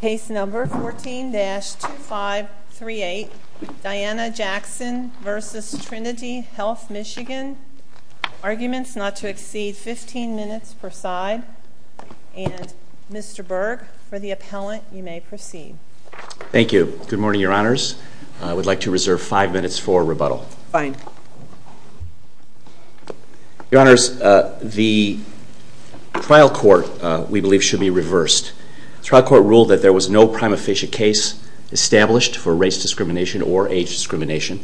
Case number 14-2538, Dianna Jackson v. Trinity Health Michigan. Arguments not to exceed 15 minutes per side. And Mr. Berg, for the appellant, you may proceed. Thank you. Good morning, Your Honors. I would like to reserve five minutes for rebuttal. Fine. Your Honors, the trial court we believe should be reversed. The trial court ruled that there was no prima facie case established for race discrimination or age discrimination.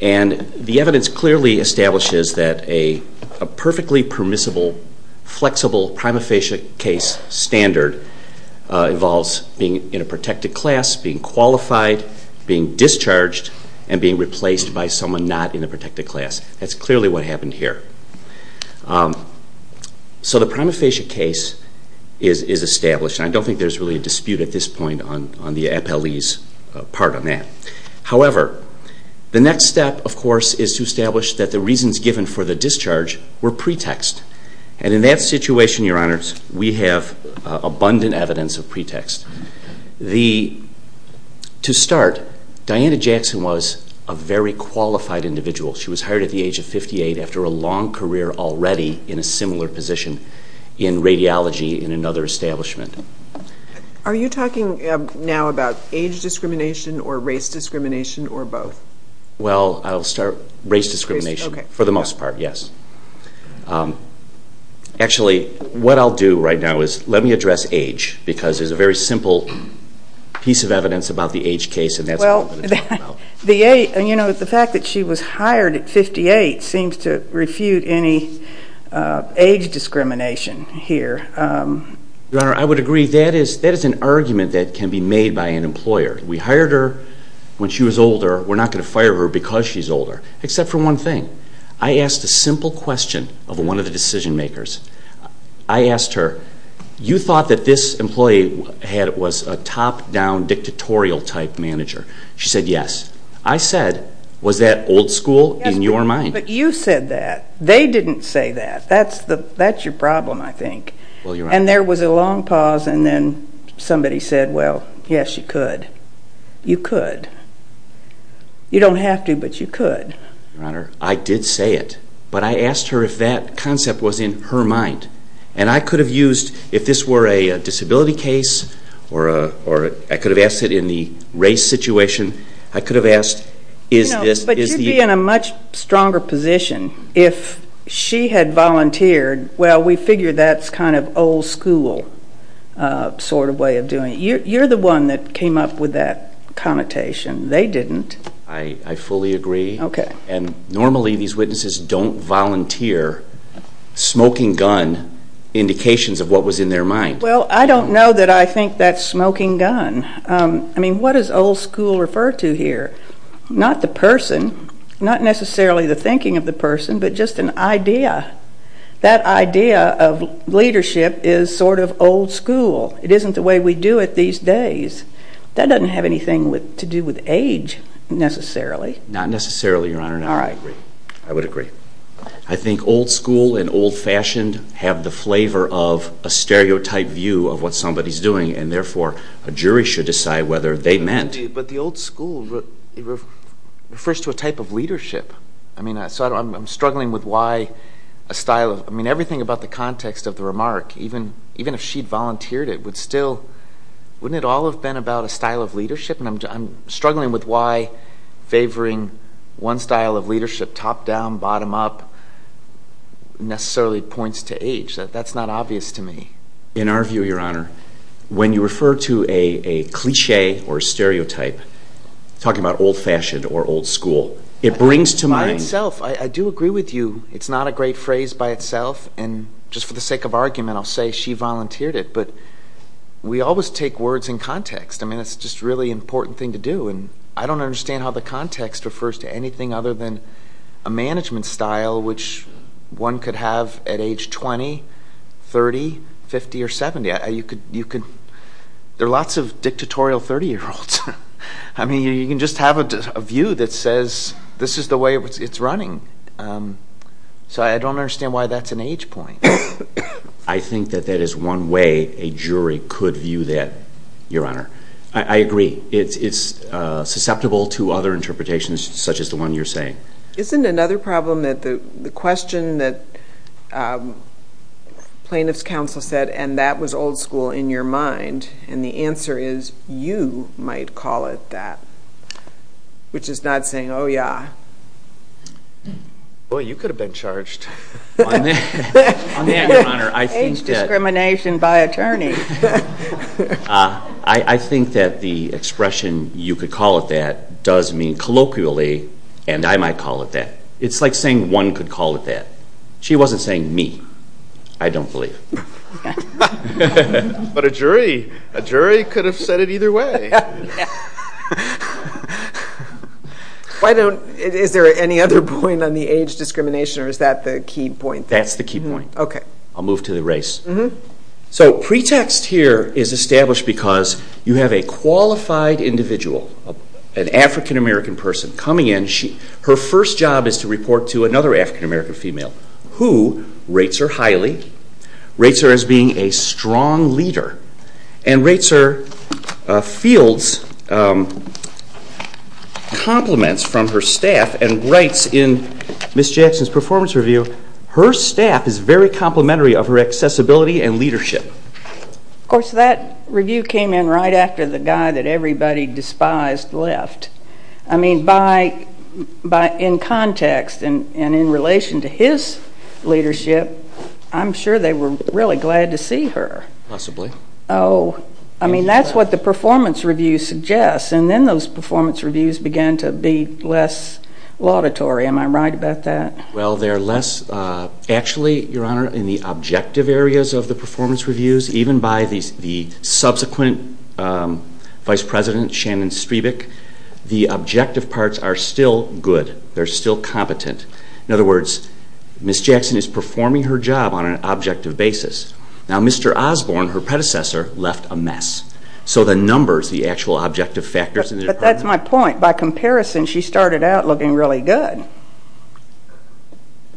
And the evidence clearly establishes that a perfectly permissible, flexible prima facie case standard involves being in a protected class, being qualified, being discharged, and being replaced by someone not in a protected class. That's clearly what happened here. So the prima facie case is established. And I don't think there's really a dispute at this point on the appellee's part on that. However, the next step, of course, is to establish that the reasons given for the discharge were pretext. And in that situation, Your Honors, we have abundant evidence of pretext. To start, Diana Jackson was a very qualified individual. She was hired at the age of 58 after a long career already in a similar position in radiology in another establishment. Are you talking now about age discrimination or race discrimination or both? Well, I'll start race discrimination for the most part, yes. Actually, what I'll do right now is let me address age, because there's a very simple piece of evidence about the age case, and that's what I'm going to talk about. Well, the fact that she was hired at 58 seems to refute any age discrimination here. Your Honor, I would agree. That is an argument that can be made by an employer. We hired her when she was older. We're not going to fire her because she's older, except for one thing. I asked a simple question of one of the decision makers. I asked her, you thought that this employee was a top-down dictatorial-type manager. She said yes. I said, was that old school in your mind? But you said that. They didn't say that. That's your problem, I think. And there was a long pause, and then somebody said, well, yes, you could. You could. You don't have to, but you could. Your Honor, I did say it, but I asked her if that concept was in her mind. And I could have used, if this were a disability case, or I could have asked it in the race situation, I could have asked, is this? But you'd be in a much stronger position if she had volunteered. Well, we figure that's kind of old school sort of way of doing it. You're the one that came up with that connotation. They didn't. I fully agree. Okay. And normally these witnesses don't volunteer smoking gun indications of what was in their mind. Well, I don't know that I think that's smoking gun. I mean, what does old school refer to here? Not the person, not necessarily the thinking of the person, but just an idea. That idea of leadership is sort of old school. It isn't the way we do it these days. That doesn't have anything to do with age, necessarily. Not necessarily, Your Honor. All right. I agree. I would agree. I think old school and old fashioned have the flavor of a stereotype view of what somebody's doing, and therefore a jury should decide whether they meant. But the old school refers to a type of leadership. I mean, I'm struggling with why a style of, I mean, everything about the context of the remark, even if she'd volunteered it, wouldn't it all have been about a style of leadership? And I'm struggling with why favoring one style of leadership, top-down, bottom-up, necessarily points to age. That's not obvious to me. In our view, Your Honor, when you refer to a cliché or a stereotype, talking about old fashioned or old school, it brings to mind By itself. I do agree with you. It's not a great phrase by itself. And just for the sake of argument, I'll say she volunteered it. But we always take words in context. I mean, it's just a really important thing to do. And I don't understand how the context refers to anything other than a management style, which one could have at age 20, 30, 50, or 70. There are lots of dictatorial 30-year-olds. I mean, you can just have a view that says this is the way it's running. So I don't understand why that's an age point. I think that that is one way a jury could view that, Your Honor. I agree. It's susceptible to other interpretations such as the one you're saying. Isn't another problem that the question that plaintiff's counsel said, and that was old school in your mind, and the answer is you might call it that, which is not saying, oh, yeah. Boy, you could have been charged. Age discrimination by attorney. I think that the expression you could call it that does mean colloquially, and I might call it that. It's like saying one could call it that. She wasn't saying me. I don't believe it. But a jury could have said it either way. Is there any other point on the age discrimination, or is that the key point? That's the key point. Okay. I'll move to the race. So pretext here is established because you have a qualified individual, an African-American person coming in. Her first job is to report to another African-American female who rates her highly, rates her as being a strong leader, and rates her fields, compliments from her staff, and writes in Ms. Jackson's performance review, her staff is very complimentary of her accessibility and leadership. Of course, that review came in right after the guy that everybody despised left. I mean, in context and in relation to his leadership, I'm sure they were really glad to see her. Possibly. Oh, I mean, that's what the performance review suggests, and then those performance reviews began to be less laudatory. Am I right about that? Well, they're less actually, Your Honor, in the objective areas of the performance reviews, even by the subsequent vice president, Shannon Strebick, the objective parts are still good. They're still competent. In other words, Ms. Jackson is performing her job on an objective basis. Now, Mr. Osborne, her predecessor, left a mess. So the numbers, the actual objective factors in the department... But that's my point. By comparison, she started out looking really good.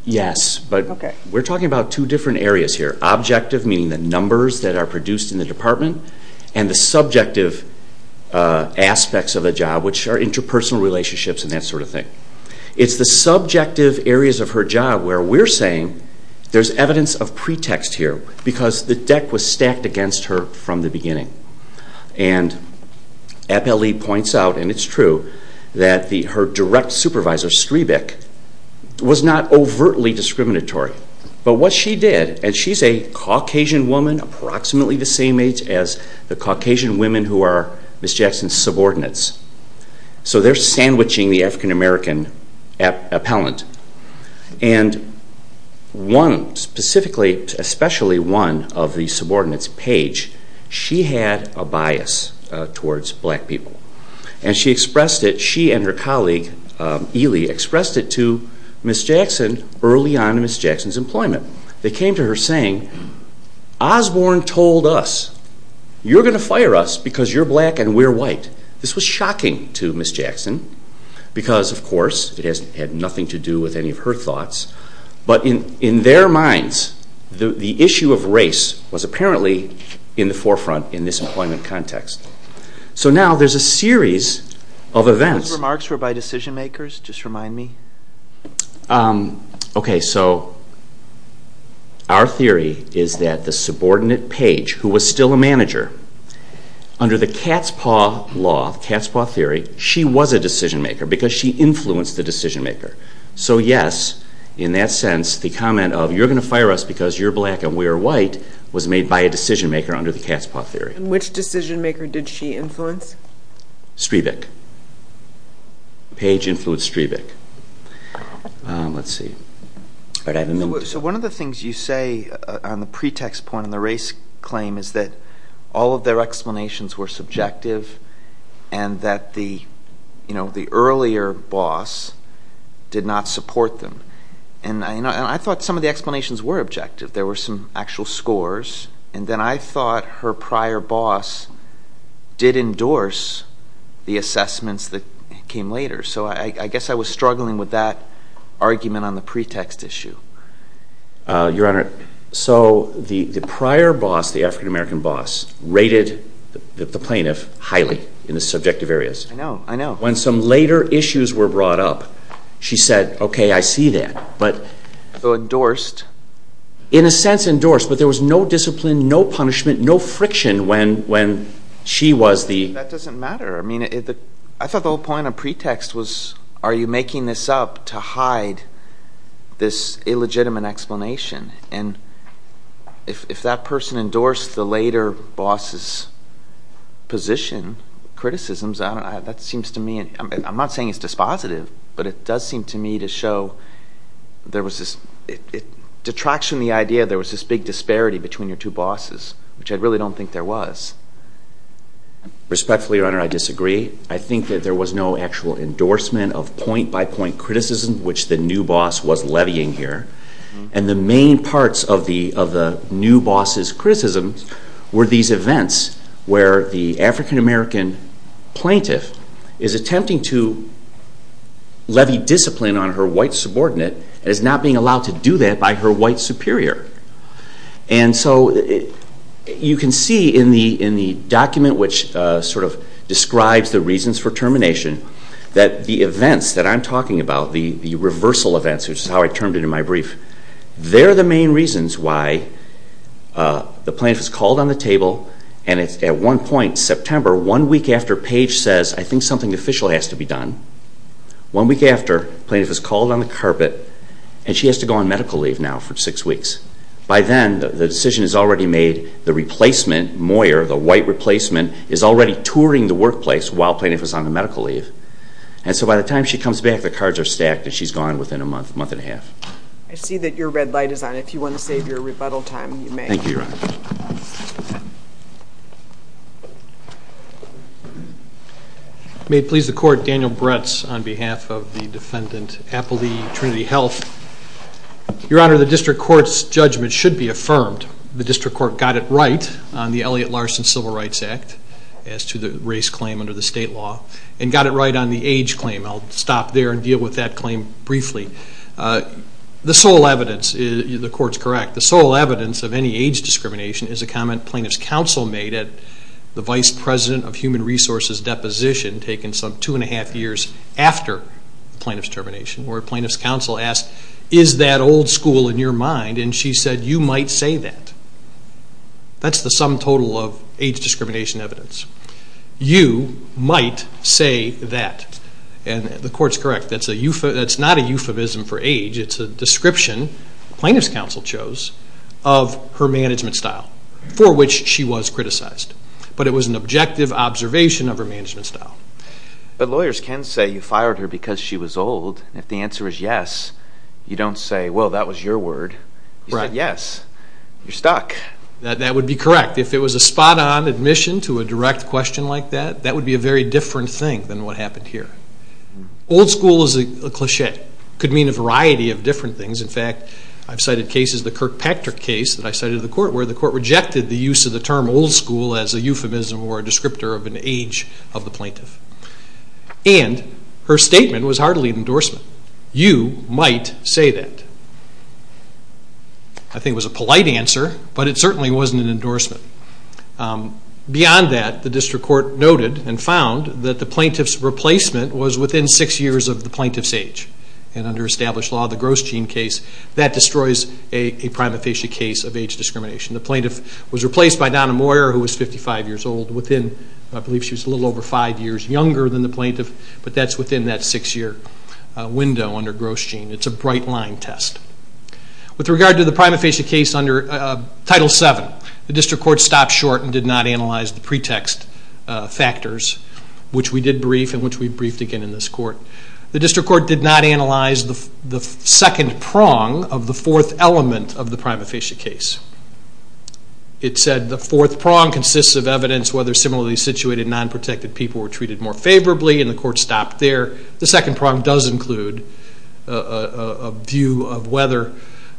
Yes, but we're talking about two different areas here. Objective, meaning the numbers that are produced in the department, and the subjective aspects of the job, which are interpersonal relationships and that sort of thing. It's the subjective areas of her job where we're saying there's evidence of pretext here because the deck was stacked against her from the beginning. And APLE points out, and it's true, that her direct supervisor, Strebick, was not overtly discriminatory. But what she did, and she's a Caucasian woman, approximately the same age as the Caucasian women who are Ms. Jackson's subordinates. So they're sandwiching the African-American appellant. And one specifically, especially one of the subordinates, Paige, she had a bias towards black people. And she and her colleague, Ely, expressed it to Ms. Jackson early on in Ms. Jackson's employment. They came to her saying, Osborne told us you're going to fire us because you're black and we're white. This was shocking to Ms. Jackson because, of course, it had nothing to do with any of her thoughts. But in their minds, the issue of race was apparently in the forefront in this employment context. So now there's a series of events. Those remarks were by decision-makers, just remind me. Okay, so our theory is that the subordinate, Paige, who was still a manager, under the cat's paw law, the cat's paw theory, she was a decision-maker because she influenced the decision-maker. So yes, in that sense, the comment of you're going to fire us because you're black and we're white was made by a decision-maker under the cat's paw theory. And which decision-maker did she influence? Strebick. Paige influenced Strebick. Let's see. So one of the things you say on the pretext point on the race claim is that all of their explanations were subjective and that the earlier boss did not support them. And I thought some of the explanations were objective. There were some actual scores. And then I thought her prior boss did endorse the assessments that came later. So I guess I was struggling with that argument on the pretext issue. Your Honor, so the prior boss, the African-American boss, rated the plaintiff highly in the subjective areas. I know, I know. When some later issues were brought up, she said, okay, I see that. So endorsed. In a sense, endorsed. But there was no discipline, no punishment, no friction when she was the... That doesn't matter. I mean, I thought the whole point on pretext was are you making this up to hide this illegitimate explanation? And if that person endorsed the later boss's position, criticisms, that seems to me, I'm not saying it's dispositive, but it does seem to me to show there was this detraction in the idea there was this big disparity between your two bosses, which I really don't think there was. Respectfully, Your Honor, I disagree. I think that there was no actual endorsement of point-by-point criticism, which the new boss was levying here. And the main parts of the new boss's criticisms were these events where the African-American plaintiff is attempting to levy discipline on her white subordinate and is not being allowed to do that by her white superior. And so you can see in the document which sort of describes the reasons for termination that the events that I'm talking about, the reversal events, which is how I termed it in my brief, they're the main reasons why the plaintiff is called on the table and at one point, September, one week after, Page says, I think something official has to be done. One week after, the plaintiff is called on the carpet and she has to go on medical leave now for six weeks. By then, the decision is already made. The replacement, Moyer, the white replacement, is already touring the workplace while the plaintiff is on the medical leave. And so by the time she comes back, the cards are stacked and she's gone within a month, month and a half. I see that your red light is on. If you want to save your rebuttal time, you may. Thank you, Your Honor. May it please the Court, Daniel Bretz on behalf of the defendant, Appleby, Trinity Health. Your Honor, the district court's judgment should be affirmed. The district court got it right on the Elliott-Larson Civil Rights Act as to the race claim under the state law and got it right on the age claim. I'll stop there and deal with that claim briefly. The sole evidence, the court's correct, the sole evidence of any age discrimination is a comment plaintiff's counsel made at the Vice President of Human Resources deposition taken some two and a half years after the plaintiff's termination where plaintiff's counsel asked, is that old school in your mind? And she said, you might say that. That's the sum total of age discrimination evidence. You might say that. And the court's correct. That's not a euphemism for age. It's a description plaintiff's counsel chose of her management style for which she was criticized. But it was an objective observation of her management style. But lawyers can say you fired her because she was old. If the answer is yes, you don't say, well, that was your word. You said yes. You're stuck. That would be correct. If it was a spot-on admission to a direct question like that, that would be a very different thing than what happened here. Old school is a cliché. It could mean a variety of different things. In fact, I've cited cases, the Kirkpatrick case that I cited in the court, where the court rejected the use of the term old school as a euphemism or a descriptor of an age of the plaintiff. And her statement was hardly an endorsement. You might say that. I think it was a polite answer, but it certainly wasn't an endorsement. Beyond that, the district court noted and found that the plaintiff's replacement was within six years of the plaintiff's age. And under established law, the Gross Gene case, that destroys a prima facie case of age discrimination. The plaintiff was replaced by Donna Moyer, who was 55 years old. I believe she was a little over five years younger than the plaintiff, but that's within that six-year window under Gross Gene. It's a bright-line test. With regard to the prima facie case under Title VII, the district court stopped short and did not analyze the pretext factors, which we did brief and which we briefed again in this court. The district court did not analyze the second prong of the fourth element of the prima facie case. It said the fourth prong consists of evidence whether similarly situated non-protected people were treated more favorably, and the court stopped there. The second prong does include a view of whether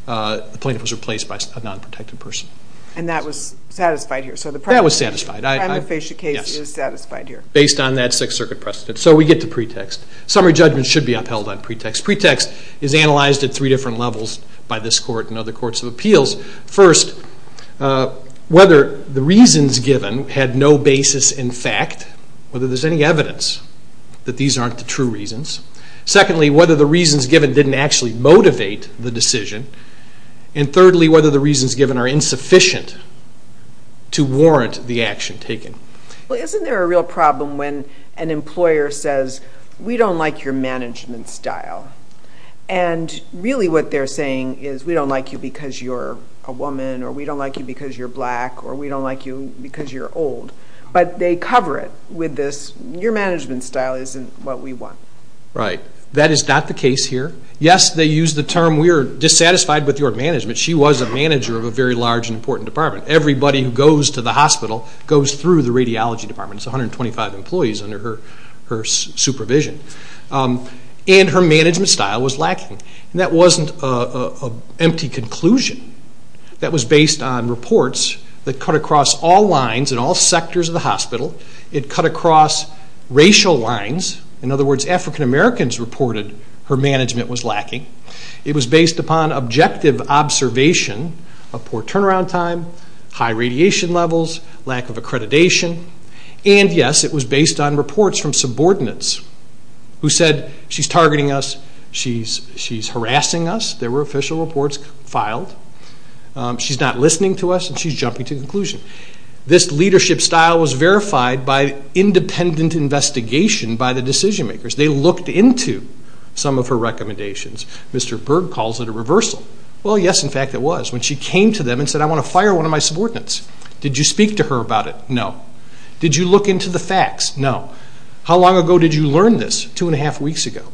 the plaintiff was replaced by a non-protected person. And that was satisfied here? That was satisfied. The prima facie case is satisfied here. Based on that Sixth Circuit precedent. So we get to pretext. Summary judgment should be upheld on pretext. Pretext is analyzed at three different levels by this court and other courts of appeals. First, whether the reasons given had no basis in fact, whether there's any evidence that these aren't the true reasons. Secondly, whether the reasons given didn't actually motivate the decision. And thirdly, whether the reasons given are insufficient to warrant the action taken. Isn't there a real problem when an employer says, we don't like your management style. And really what they're saying is we don't like you because you're a woman or we don't like you because you're black or we don't like you because you're old. But they cover it with this, your management style isn't what we want. Right. That is not the case here. Yes, they use the term we're dissatisfied with your management. She was a manager of a very large and important department. Everybody who goes to the hospital goes through the radiology department. It's 125 employees under her supervision. And her management style was lacking. And that wasn't an empty conclusion. That was based on reports that cut across all lines in all sectors of the hospital. It cut across racial lines. In other words, African Americans reported her management was lacking. It was based upon objective observation of poor turnaround time, high radiation levels, lack of accreditation. And, yes, it was based on reports from subordinates who said, she's targeting us, she's harassing us. There were official reports filed. She's not listening to us and she's jumping to conclusions. This leadership style was verified by independent investigation by the decision makers. They looked into some of her recommendations. Mr. Berg calls it a reversal. Well, yes, in fact, it was when she came to them and said, I want to fire one of my subordinates. Did you speak to her about it? No. Did you look into the facts? No. How long ago did you learn this? Two and a half weeks ago.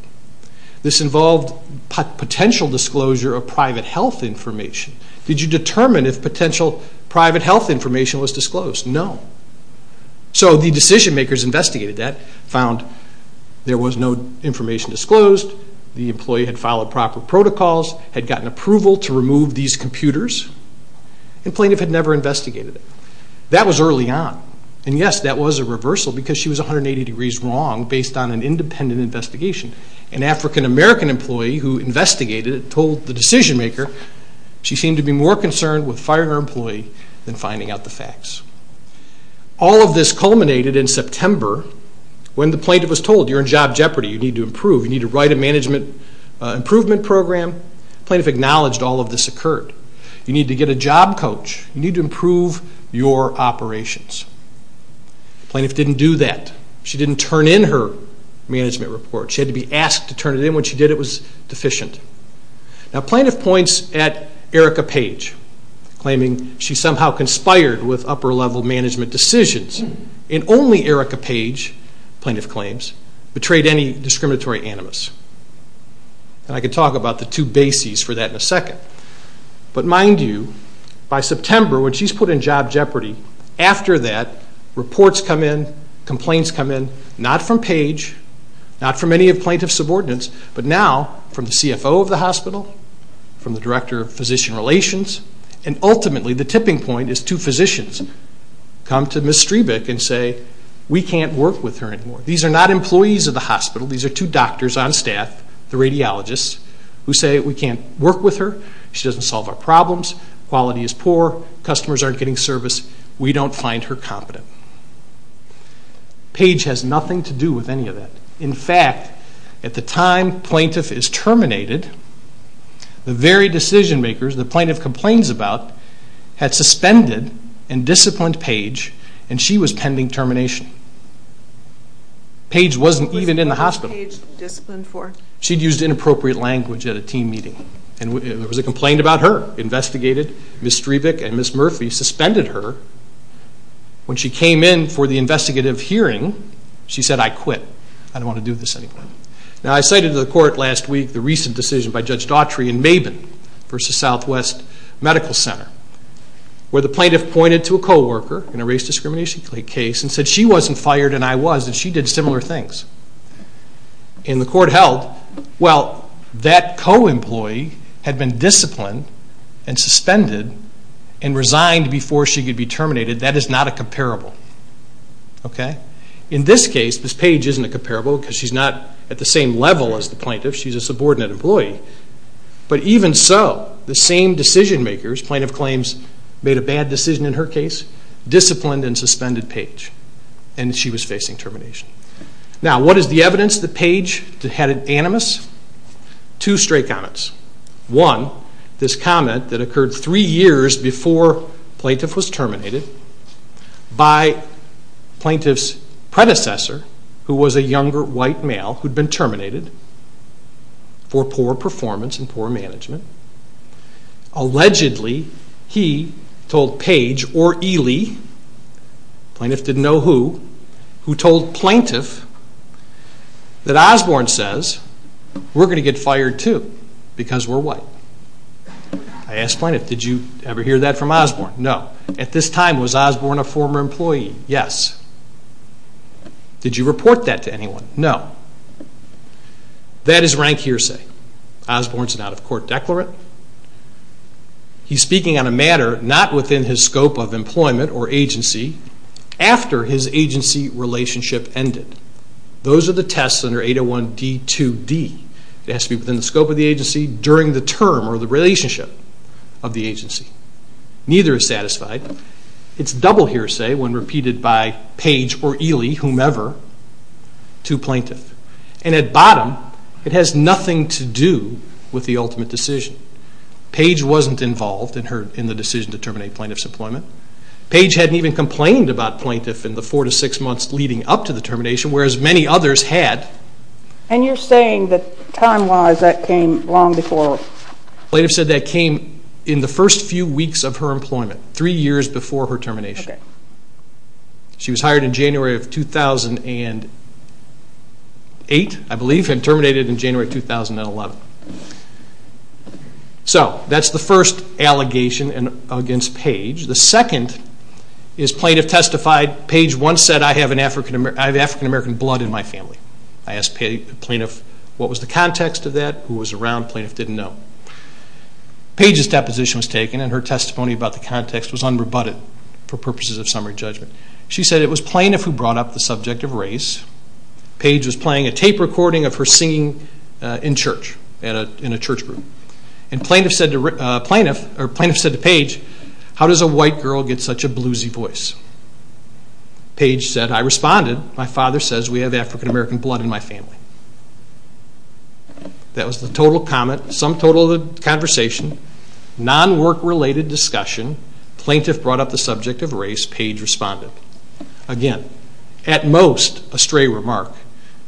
This involved potential disclosure of private health information. Did you determine if potential private health information was disclosed? No. So the decision makers investigated that, found there was no information disclosed, the employee had followed proper protocols, had gotten approval to remove these computers, and plaintiff had never investigated it. That was early on. And, yes, that was a reversal because she was 180 degrees wrong based on an independent investigation. An African-American employee who investigated it told the decision maker she seemed to be more concerned with firing her employee than finding out the facts. All of this culminated in September when the plaintiff was told you're in job jeopardy, you need to improve, you need to write a management improvement program. The plaintiff acknowledged all of this occurred. You need to get a job coach. You need to improve your operations. The plaintiff didn't do that. She didn't turn in her management report. She had to be asked to turn it in. When she did, it was deficient. Now, plaintiff points at Erica Page, claiming she somehow conspired with upper-level management decisions. And only Erica Page, plaintiff claims, betrayed any discriminatory animus. And I can talk about the two bases for that in a second. But mind you, by September, when she's put in job jeopardy, after that, reports come in, complaints come in, not from Page, not from any of plaintiff's subordinates, but now from the CFO of the hospital, from the director of physician relations, and ultimately the tipping point is two physicians come to Ms. Strebick and say, we can't work with her anymore. These are not employees of the hospital. These are two doctors on staff, the radiologists, who say we can't work with her. She doesn't solve our problems. Quality is poor. Customers aren't getting service. We don't find her competent. Page has nothing to do with any of that. In fact, at the time plaintiff is terminated, the very decision-makers the plaintiff complains about had suspended and disciplined Page, and she was pending termination. Page wasn't even in the hospital. She'd used inappropriate language at a team meeting. There was a complaint about her, investigated. Ms. Strebick and Ms. Murphy suspended her. When she came in for the investigative hearing, she said, I quit. I don't want to do this anymore. Now, I cited to the court last week the recent decision by Judge Daughtry in Mabin v. Southwest Medical Center, where the plaintiff pointed to a co-worker in a race discrimination case and said she wasn't fired and I was, and she did similar things. And the court held, well, that co-employee had been disciplined and suspended and resigned before she could be terminated. That is not a comparable. Okay? In this case, this Page isn't a comparable because she's not at the same level as the plaintiff. She's a subordinate employee. But even so, the same decision-makers, plaintiff claims made a bad decision in her case, disciplined and suspended Page, and she was facing termination. Now, what is the evidence that Page had an animus? Two straight comments. One, this comment that occurred three years before plaintiff was terminated by plaintiff's predecessor, who was a younger white male who had been terminated for poor performance and poor management. Allegedly, he told Page or Ely, plaintiff didn't know who, who told plaintiff that Osborne says, we're going to get fired too because we're white. I asked plaintiff, did you ever hear that from Osborne? No. At this time, was Osborne a former employee? Yes. Did you report that to anyone? No. That is rank hearsay. Osborne's an out-of-court declarant. He's speaking on a matter not within his scope of employment or agency after his agency relationship ended. Those are the tests under 801 D2D. It has to be within the scope of the agency during the term or the relationship of the agency. Neither is satisfied. It's double hearsay when repeated by Page or Ely, whomever, to plaintiff. And at bottom, it has nothing to do with the ultimate decision. Page wasn't involved in the decision to terminate plaintiff's employment. Page hadn't even complained about plaintiff in the four to six months leading up to the termination, whereas many others had. And you're saying that time-wise that came long before? Plaintiff said that came in the first few weeks of her employment, three years before her termination. She was hired in January of 2008, I believe, and terminated in January 2011. So that's the first allegation against Page. The second is plaintiff testified, I asked the plaintiff what was the context of that, who was around, the plaintiff didn't know. Page's deposition was taken and her testimony about the context was unrebutted for purposes of summary judgment. She said it was plaintiff who brought up the subject of race. Page was playing a tape recording of her singing in church, in a church group. And plaintiff said to Page, how does a white girl get such a bluesy voice? Page said, I responded, my father says we have African-American blood in my family. That was the total comment, some total of the conversation, non-work-related discussion, plaintiff brought up the subject of race, Page responded. Again, at most a stray remark,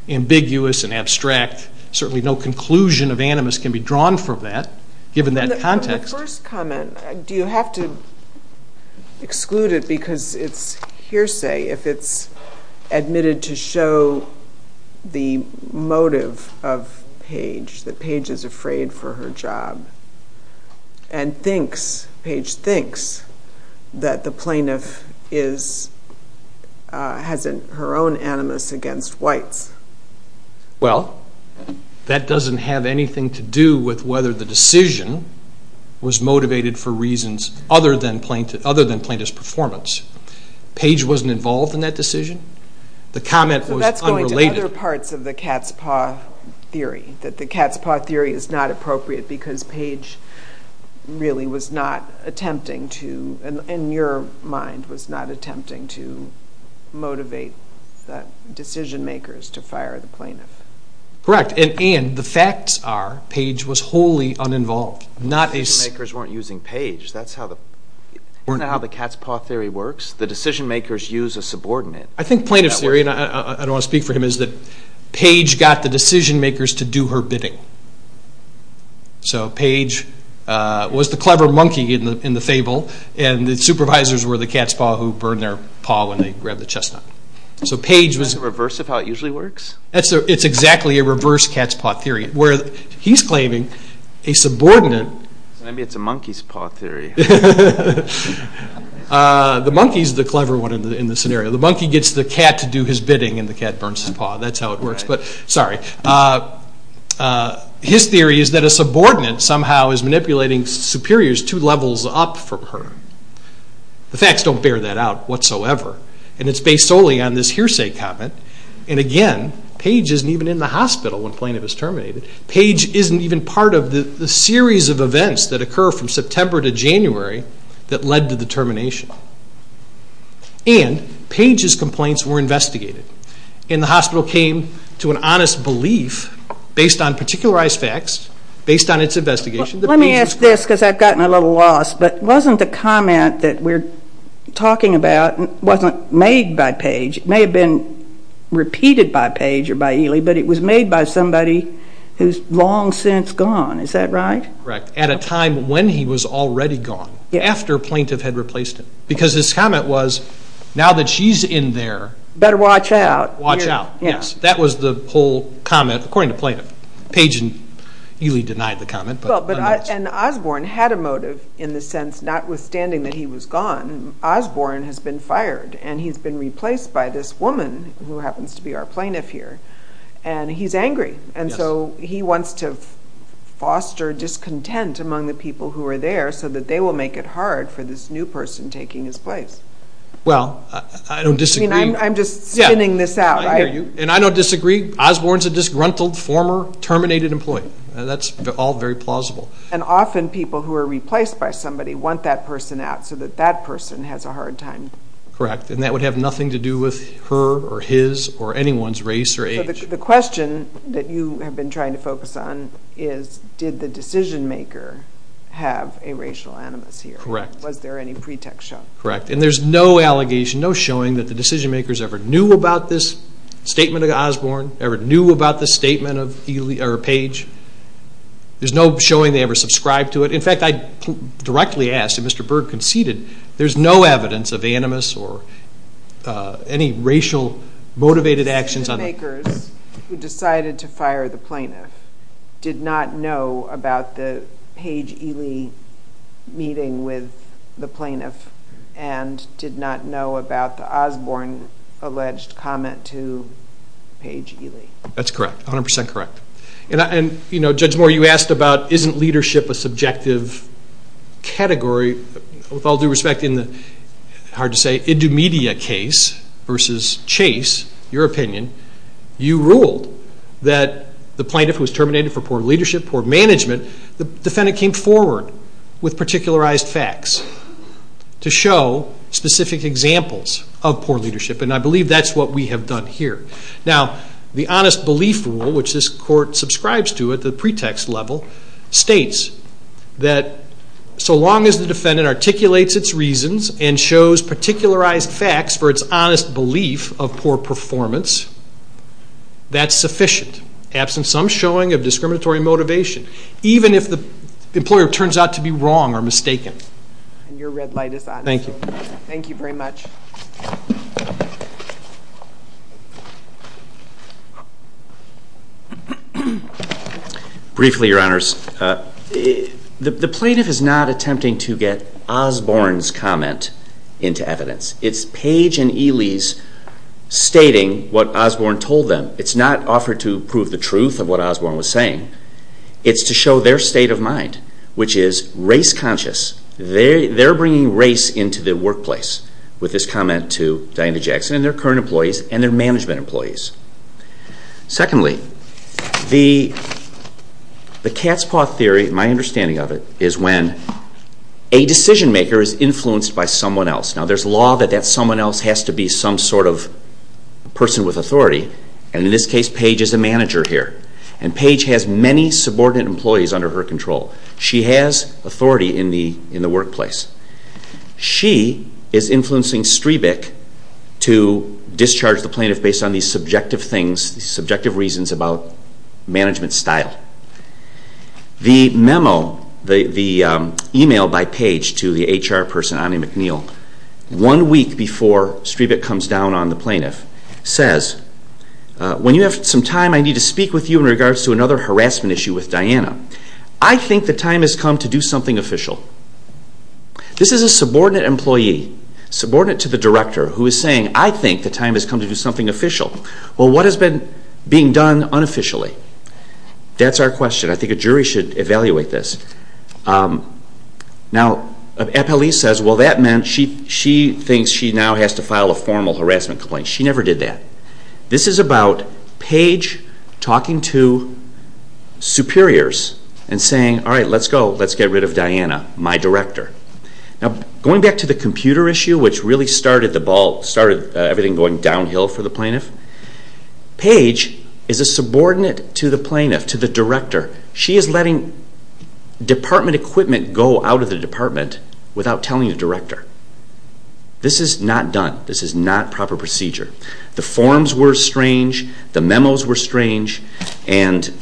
ambiguous and abstract, certainly no conclusion of animus can be drawn from that, given that context. My first comment, do you have to exclude it because it's hearsay, if it's admitted to show the motive of Page, that Page is afraid for her job, and thinks, Page thinks, that the plaintiff has her own animus against whites? Well, that doesn't have anything to do with whether the decision was motivated for reasons other than plaintiff's performance. Page wasn't involved in that decision, the comment was unrelated. So that's going to other parts of the cat's paw theory, that the cat's paw theory is not appropriate because Page really was not attempting to, in your mind, was not attempting to motivate the decision makers to fire the plaintiff. Correct, and the facts are, Page was wholly uninvolved. Decision makers weren't using Page, that's not how the cat's paw theory works, the decision makers use a subordinate. I think plaintiff's theory, and I don't want to speak for him, is that Page got the decision makers to do her bidding. So Page was the clever monkey in the fable, and the supervisors were the cat's paw who burned their paw when they grabbed the chestnut. Is that the reverse of how it usually works? It's exactly a reverse cat's paw theory, where he's claiming a subordinate... Maybe it's a monkey's paw theory. The monkey's the clever one in the scenario. The monkey gets the cat to do his bidding and the cat burns his paw, that's how it works, but sorry. His theory is that a subordinate somehow is manipulating superiors two levels up from her. The facts don't bear that out whatsoever, and it's based solely on this hearsay comment, and again, Page isn't even in the hospital when Plaintiff is terminated. Page isn't even part of the series of events that occur from September to January that led to the termination. And Page's complaints were investigated, and the hospital came to an honest belief, based on particularized facts, based on its investigation... Let me ask this, because I've gotten a little lost, but wasn't the comment that we're talking about wasn't made by Page? It may have been repeated by Page or by Ely, but it was made by somebody who's long since gone, is that right? Correct. At a time when he was already gone, after Plaintiff had replaced him. Because his comment was, now that she's in there... Better watch out. Watch out, yes. That was the whole comment, according to Plaintiff. Page and Ely denied the comment. And Osborne had a motive in the sense, notwithstanding that he was gone, Osborne has been fired, and he's been replaced by this woman, who happens to be our Plaintiff here, and he's angry. And so he wants to foster discontent among the people who are there, so that they will make it hard for this new person taking his place. Well, I don't disagree. I'm just spinning this out. And I don't disagree. Osborne's a disgruntled, former, terminated employee. That's all very plausible. And often people who are replaced by somebody want that person out, so that that person has a hard time. Correct. And that would have nothing to do with her or his or anyone's race or age. The question that you have been trying to focus on is, did the decision-maker have a racial animus here? Correct. Was there any pretext shown? Correct. And there's no allegation, no showing that the decision-makers ever knew about this statement of Osborne, ever knew about this statement of Page. There's no showing they ever subscribed to it. In fact, I directly asked, and Mr. Berg conceded, there's no evidence of animus or any racial motivated actions on that. The decision-makers who decided to fire the plaintiff did not know about the Page-Ely meeting with the plaintiff and did not know about the Osborne-alleged comment to Page-Ely. That's correct, 100% correct. And, you know, Judge Moore, you asked about, isn't leadership a subjective category? With all due respect, in the, hard to say, Indumedia case versus Chase, your opinion, you ruled that the plaintiff was terminated for poor leadership, poor management. The defendant came forward with particularized facts to show specific examples of poor leadership, and I believe that's what we have done here. Now, the honest belief rule, which this court subscribes to at the pretext level, states that so long as the defendant articulates its reasons and shows particularized facts for its honest belief of poor performance, that's sufficient, absent some showing of discriminatory motivation, even if the employer turns out to be wrong or mistaken. And your red light is on. Thank you. Thank you very much. Briefly, Your Honors, the plaintiff is not attempting to get Osborne's comment into evidence. It's Page and Ely's stating what Osborne told them. It's not offered to prove the truth of what Osborne was saying. It's to show their state of mind, which is race conscious. They're bringing race into the workplace with this comment to Diana Jackson and their current employees and their management employees. Secondly, the cat's paw theory, my understanding of it, is when a decision maker is influenced by someone else. Now, there's law that that someone else has to be some sort of person with authority, and in this case, Page is a manager here. And Page has many subordinate employees under her control. She has authority in the workplace. She is influencing Strebick to discharge the plaintiff based on these subjective things, these subjective reasons about management style. The memo, the email by Page to the HR person, Ani McNeil, one week before Strebick comes down on the plaintiff, says, when you have some time, I need to speak with you in regards to another harassment issue with Diana. I think the time has come to do something official. This is a subordinate employee, subordinate to the director, who is saying, I think the time has come to do something official. Well, what has been being done unofficially? That's our question. I think a jury should evaluate this. Now, an appellee says, well, that meant she thinks she now has to file a formal harassment complaint. She never did that. This is about Page talking to superiors and saying, all right, let's go, let's get rid of Diana, my director. Now, going back to the computer issue, which really started the ball, started everything going downhill for the plaintiff, Page is a subordinate to the plaintiff, to the director. She is letting department equipment go out of the department without telling the director. This is not done. This is not proper procedure. The forms were strange. The memos were strange. And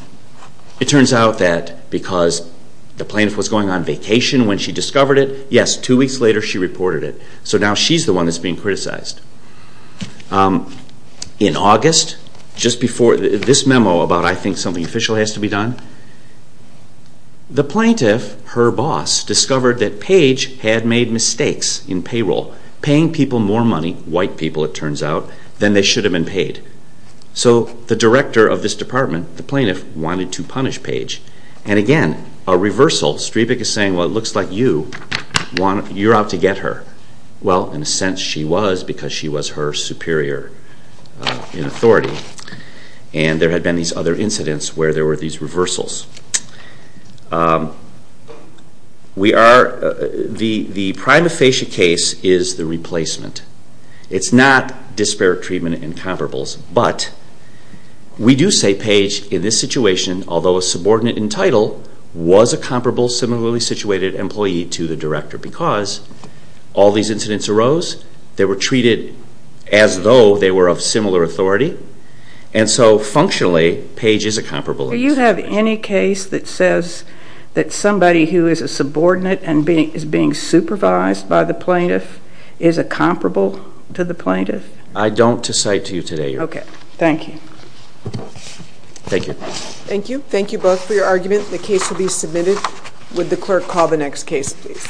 it turns out that because the plaintiff was going on vacation when she discovered it, yes, two weeks later she reported it. So now she's the one that's being criticized. In August, just before this memo about, I think something official has to be done, had made mistakes in payroll. Paying people more money, white people it turns out, than they should have been paid. So the director of this department, the plaintiff, wanted to punish Page. And again, a reversal. Strebick is saying, well, it looks like you're out to get her. Well, in a sense she was because she was her superior in authority. And there had been these other incidents where there were these reversals. The prima facie case is the replacement. It's not disparate treatment and comparables. But we do say Page, in this situation, although a subordinate in title, was a comparable similarly situated employee to the director because all these incidents arose. They were treated as though they were of similar authority. And so functionally, Page is a comparable. Do you have any case that says that somebody who is a subordinate and is being supervised by the plaintiff is a comparable to the plaintiff? I don't to cite to you today, Your Honor. Okay. Thank you. Thank you. Thank you. Thank you both for your argument. The case will be submitted. Would the clerk call the next case, please?